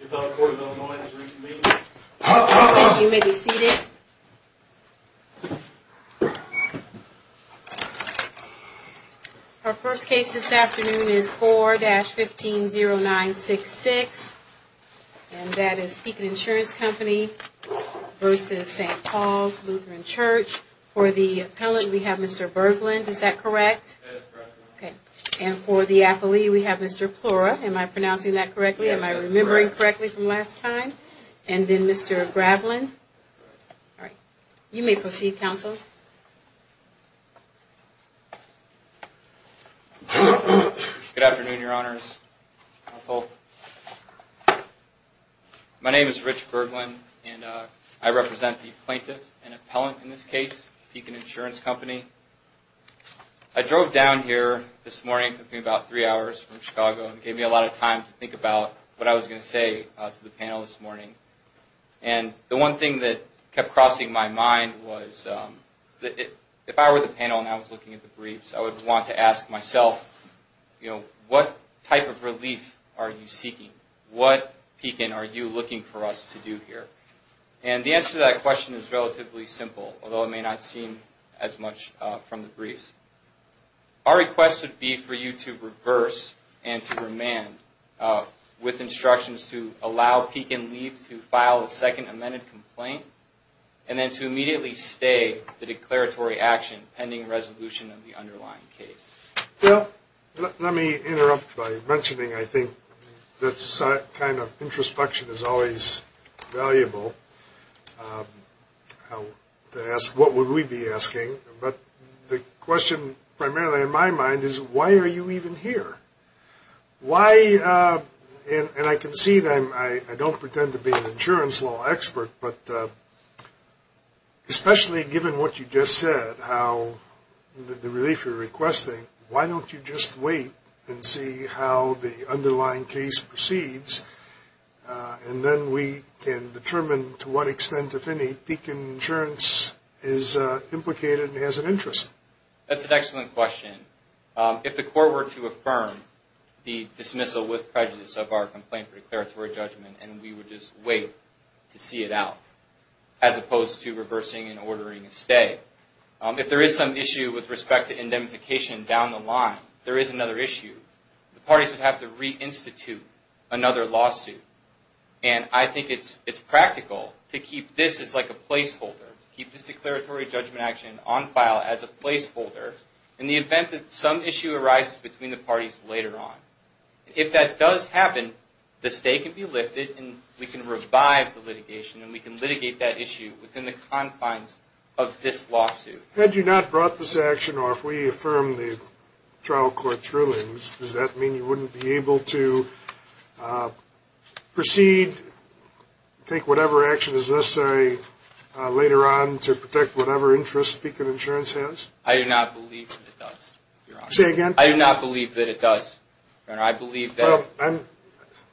The appellate court of Illinois has reached a meeting. Thank you. You may be seated. Our first case this afternoon is 4-150966, and that is Pekin Insurance Company v. St. Paul Lutheran Church. For the appellant, we have Mr. Berglund, is that correct? That is correct. Okay. And for the appellee, we have Mr. Plora. Am I pronouncing that correctly? Yes, that's correct. Am I remembering correctly from last time? And then Mr. Gravlin. That's correct. All right. You may proceed, counsel. Good afternoon, Your Honors. My name is Rich Berglund, and I represent the plaintiff and appellant in this case, Pekin Insurance Company. I drove down here this morning. It took me about three hours from Chicago. It gave me a lot of time to think about what I was going to say to the panel this morning. And the one thing that kept crossing my mind was if I were the panel and I was looking at the briefs, I would want to ask myself, you know, what type of relief are you seeking? What, Pekin, are you looking for us to do here? And the answer to that question is relatively simple, although it may not seem as much from the briefs. Our request would be for you to reverse and to remand with instructions to allow Pekin Relief to file a second amended complaint and then to immediately stay the declaratory action pending resolution of the underlying case. Well, let me interrupt by mentioning I think that kind of introspection is always valuable to ask what would we be asking. But the question primarily in my mind is why are you even here? Why, and I concede I don't pretend to be an insurance law expert, but especially given what you just said, how the relief you're requesting, why don't you just wait and see how the underlying case proceeds and then we can determine to what extent, if any, Pekin Insurance is implicated and has an interest? That's an excellent question. If the court were to affirm the dismissal with prejudice of our complaint for declaratory judgment and we would just wait to see it out as opposed to reversing and ordering a stay. If there is some issue with respect to indemnification down the line, there is another issue. The parties would have to reinstitute another lawsuit. And I think it's practical to keep this as like a placeholder, keep this declaratory judgment action on file as a placeholder in the event that some issue arises between the parties later on. If that does happen, the stay can be lifted and we can revive the litigation and we can litigate that issue within the confines of this lawsuit. Had you not brought this action or if we affirm the trial court's rulings, does that mean you wouldn't be able to proceed, take whatever action is necessary later on to protect whatever interest Pekin Insurance has? I do not believe that it does, Your Honor. Say again? I do not believe that it does, Your Honor. I believe that...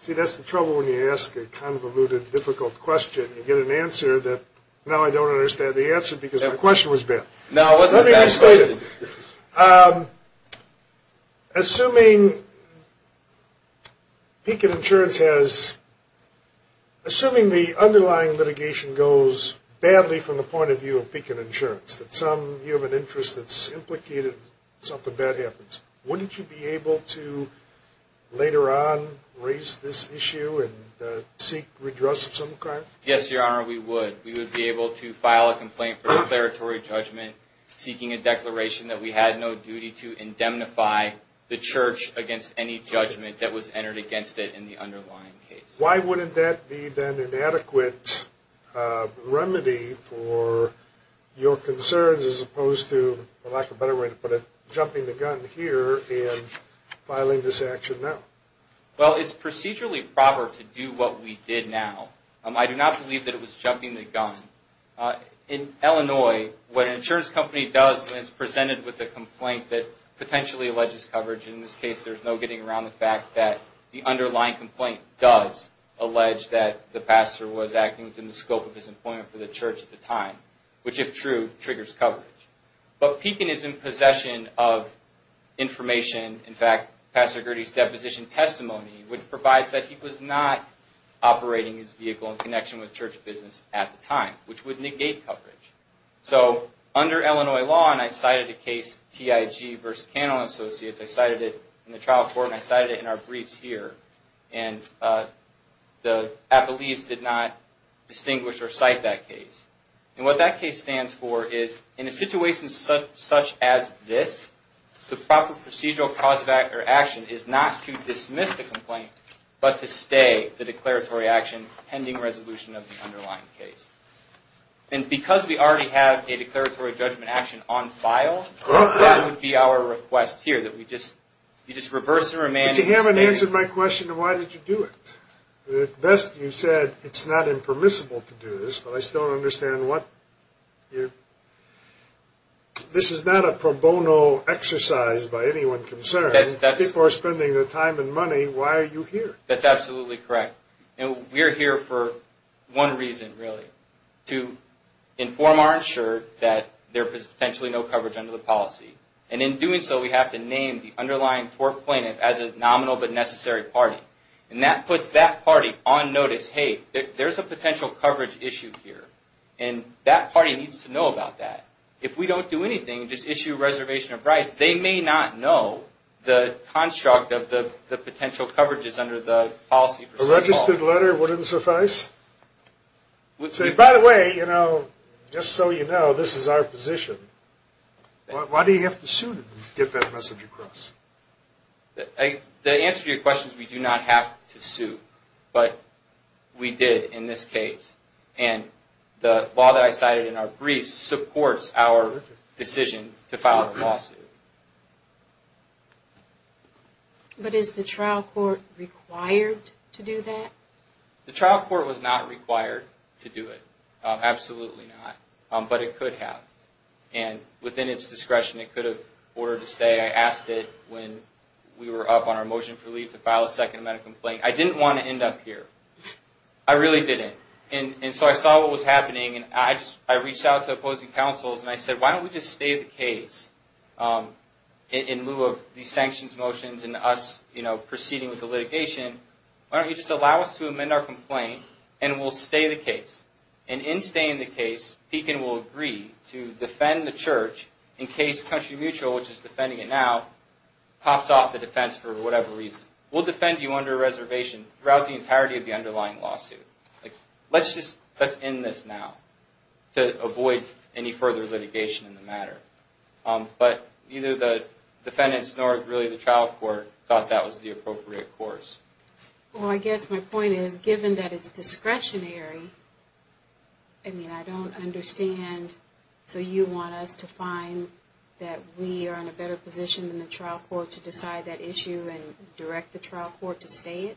See, that's the trouble when you ask a convoluted, difficult question. You get an answer that now I don't understand the answer because the question was bad. No, it wasn't a bad question. Let me restate it. Assuming Pekin Insurance has... Assuming the underlying litigation goes badly from the point of view of Pekin Insurance, that you have an interest that's implicated, something bad happens, wouldn't you be able to later on raise this issue and seek redress of some crime? Yes, Your Honor, we would. We would be able to file a complaint for declaratory judgment seeking a declaration that we had no duty to indemnify the church against any judgment that was entered against it in the underlying case. Why wouldn't that be then an adequate remedy for your concerns as opposed to, for lack of a better way to put it, jumping the gun here and filing this action now? Well, it's procedurally proper to do what we did now. I do not believe that it was jumping the gun. In Illinois, what an insurance company does when it's presented with a complaint that potentially alleges coverage, and in this case there's no getting around the fact that the underlying complaint does allege that the pastor was acting within the scope of his employment for the church at the time, which if true, triggers coverage. But Pekin is in possession of information, in fact, Pastor Gertie's deposition testimony, which provides that he was not operating his vehicle in connection with church business at the time, which would negate coverage. So, under Illinois law, and I cited a case, TIG v. Cannell & Associates, I cited it in the trial court and I cited it in our briefs here, and the appellees did not distinguish or cite that case. And what that case stands for is, in a situation such as this, the proper procedural cause of action is not to dismiss the complaint, but to stay the declaratory action pending resolution of the underlying case. And because we already have a declaratory judgment action on file, that would be our request here, that we just reverse and remand. But you haven't answered my question of why did you do it. At best you said, it's not impermissible to do this, but I still don't understand what you're... This is not a pro bono exercise by anyone concerned. People are spending their time and money, why are you here? That's absolutely correct. And we're here for one reason, really, to inform our insured that there is potentially no coverage under the policy. And in doing so, we have to name the underlying tort plaintiff as a nominal but necessary party. And that puts that party on notice, hey, there's a potential coverage issue here, and that party needs to know about that. Because they may not know the construct of the potential coverages under the policy. A registered letter wouldn't suffice? By the way, just so you know, this is our position. Why do you have to sue to get that message across? The answer to your question is we do not have to sue, but we did in this case. And the law that I cited in our briefs supports our decision to file a lawsuit. But is the trial court required to do that? The trial court was not required to do it. Absolutely not. But it could have. And within its discretion, it could have ordered to stay. I asked it when we were up on our motion for leave to file a second amendment complaint. I didn't want to end up here. I really didn't. And so I saw what was happening, and I reached out to opposing counsels, and I said, why don't we just stay the case in lieu of these sanctions motions and us proceeding with the litigation? Why don't you just allow us to amend our complaint, and we'll stay the case? And in staying the case, Pekin will agree to defend the church in case Country Mutual, which is defending it now, pops off the defense for whatever reason. We'll defend you under a reservation throughout the entirety of the underlying lawsuit. Let's just end this now to avoid any further litigation in the matter. But neither the defendants nor really the trial court thought that was the appropriate course. Well, I guess my point is, given that it's discretionary, I mean, I don't understand. So you want us to find that we are in a better position than the trial court to decide that issue and direct the trial court to stay it?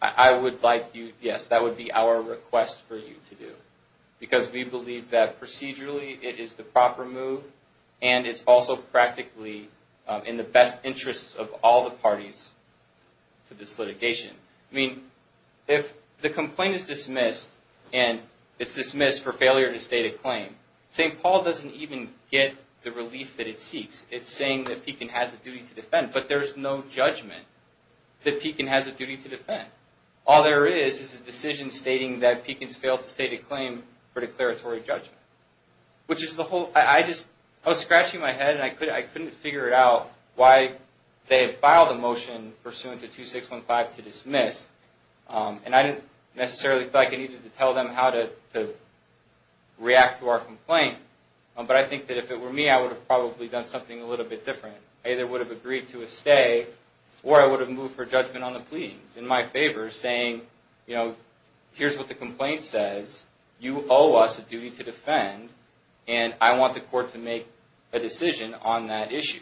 I would like you, yes, that would be our request for you to do, because we believe that procedurally it is the proper move, and it's also practically in the best interests of all the parties to this litigation. I mean, if the complaint is dismissed, and it's dismissed for failure to state a claim, St. Paul doesn't even get the relief that it seeks. It's saying that Pekin has a duty to defend. But there's no judgment that Pekin has a duty to defend. All there is is a decision stating that Pekin's failed to state a claim for declaratory judgment, which is the whole – I was scratching my head, and I couldn't figure it out why they had filed a motion pursuant to 2615 to dismiss, and I didn't necessarily feel like I needed to tell them how to react to our complaint. But I think that if it were me, I would have probably done something a little bit different. I either would have agreed to a stay, or I would have moved for judgment on the pleadings, in my favor, saying, you know, here's what the complaint says, you owe us a duty to defend, and I want the court to make a decision on that issue.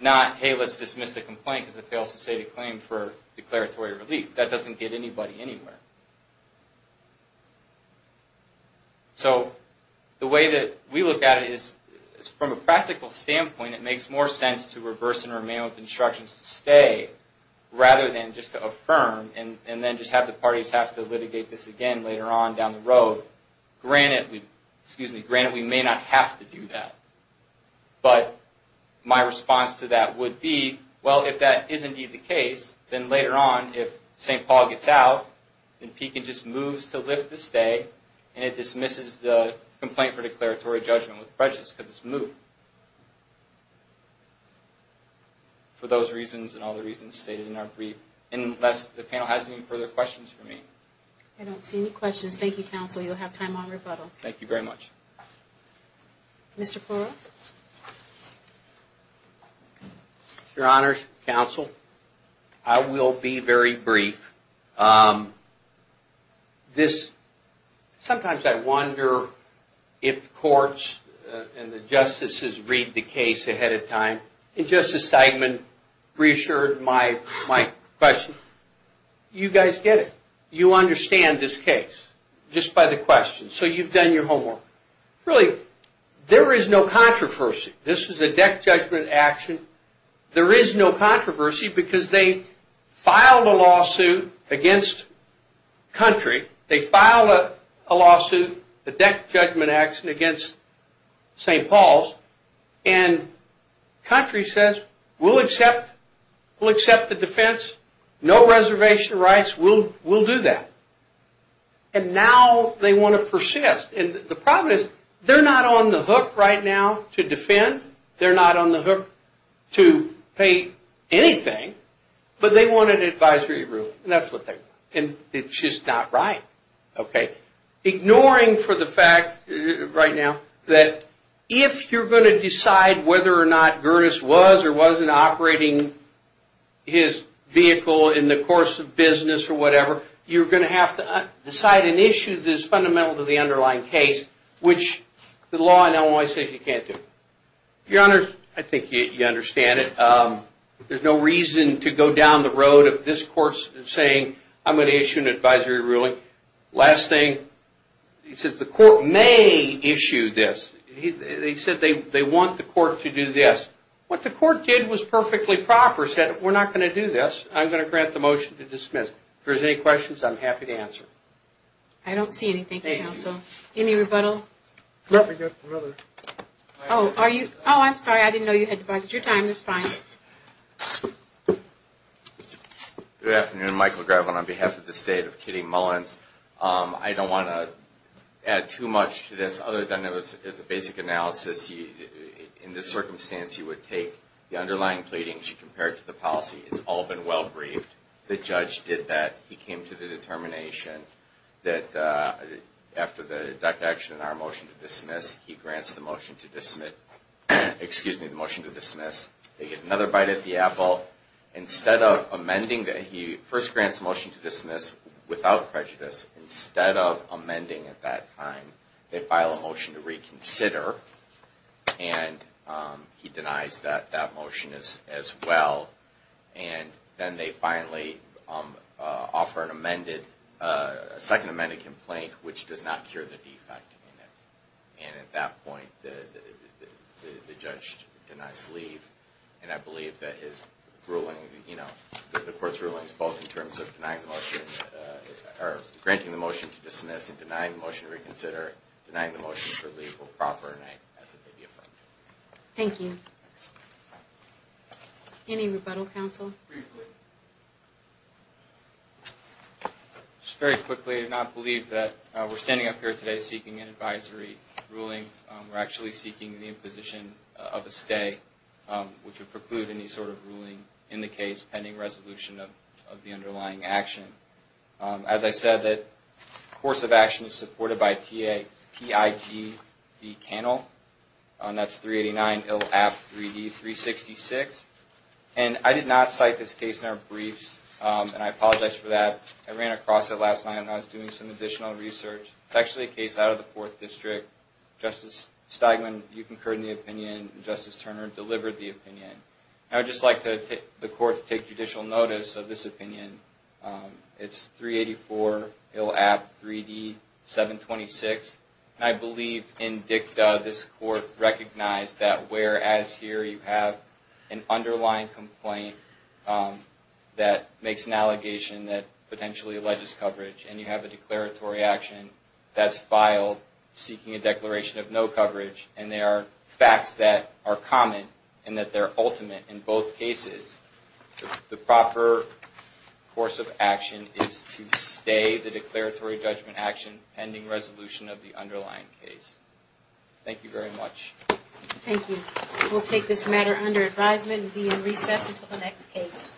Not, hey, let's dismiss the complaint because it fails to state a claim for declaratory relief. That doesn't get anybody anywhere. So, the way that we look at it is, from a practical standpoint, it makes more sense to reverse and remain with instructions to stay, rather than just to affirm, and then just have the parties have to litigate this again later on down the road. Granted, we may not have to do that. But my response to that would be, well, if that is indeed the case, then later on, if St. Paul gets out, then Pekin just moves to lift the stay, and it dismisses the complaint for declaratory judgment with prejudice, because it's moved. For those reasons, and all the reasons stated in our brief. Unless the panel has any further questions for me. I don't see any questions. Thank you, counsel. You'll have time on rebuttal. Thank you very much. Mr. Poirot? Your honors, counsel. I will be very brief. Sometimes I wonder if courts and the justices read the case ahead of time. And Justice Steigman reassured my question. You guys get it. You understand this case, just by the questions. So, you've done your homework. Really, there is no controversy. This is a deck judgment action. There is no controversy, because they filed a lawsuit against country. They filed a lawsuit, a deck judgment action against St. Paul's. And country says, we'll accept the defense. No reservation rights. We'll do that. And now they want to persist. And the problem is, they're not on the hook right now to defend. They're not on the hook to pay anything. But they want an advisory rule. And that's what they want. And it's just not right. Okay. Ignoring for the fact, right now, that if you're going to decide whether or not Gerdes was or wasn't operating his vehicle in the course of business or whatever, you're going to have to decide and issue this fundamental to the underlying case, which the law in Illinois says you can't do. Your Honor, I think you understand it. There's no reason to go down the road of this court saying, I'm going to issue an advisory ruling. Last thing, the court may issue this. They said they want the court to do this. What the court did was perfectly proper. It said, we're not going to do this. I'm going to grant the motion to dismiss. If there's any questions, I'm happy to answer. I don't see anything. Thank you, counsel. Any rebuttal? No, we've got another. Oh, I'm sorry. I didn't know you had to budge. It's your time. It's fine. Good afternoon. Michael Grevin on behalf of the State of Kitty Mullins. I don't want to add too much to this other than it's a basic analysis. In this circumstance, you would take the underlying pleadings. You compare it to the policy. It's all been well-briefed. The judge did that. He came to the determination that after the deduction in our motion to dismiss, he grants the motion to dismiss. They get another bite at the apple. Instead of amending, he first grants the motion to dismiss without prejudice. Instead of amending at that time, they file a motion to reconsider, and he denies that motion as well. Then they finally offer a second amended complaint, which does not cure the defect in it. At that point, the judge denies leave. I believe that the court's ruling is both in terms of granting the motion to dismiss and denying the motion to reconsider. Denying the motion for leave will properly deny it as it may be affirmed. Thank you. Thank you. Any rebuttal, counsel? Briefly. Just very quickly, I do not believe that we're standing up here today seeking an advisory ruling. We're actually seeking the imposition of a stay, which would preclude any sort of ruling in the case pending resolution of the underlying action. That's 389-IL-APT-3D-366. I did not cite this case in our briefs, and I apologize for that. I ran across it last night, and I was doing some additional research. It's actually a case out of the 4th District. Justice Steigman, you concurred in the opinion, and Justice Turner delivered the opinion. I would just like the court to take judicial notice of this opinion. It's 384-IL-APT-3D-726. I believe in dicta this court recognized that whereas here you have an underlying complaint that makes an allegation that potentially alleges coverage, and you have a declaratory action that's filed seeking a declaration of no coverage, and there are facts that are common and that they're ultimate in both cases, the proper course of action is to stay the declaratory judgment action pending resolution of the underlying case. Thank you very much. Thank you. We'll take this matter under advisement and be in recess until the next case.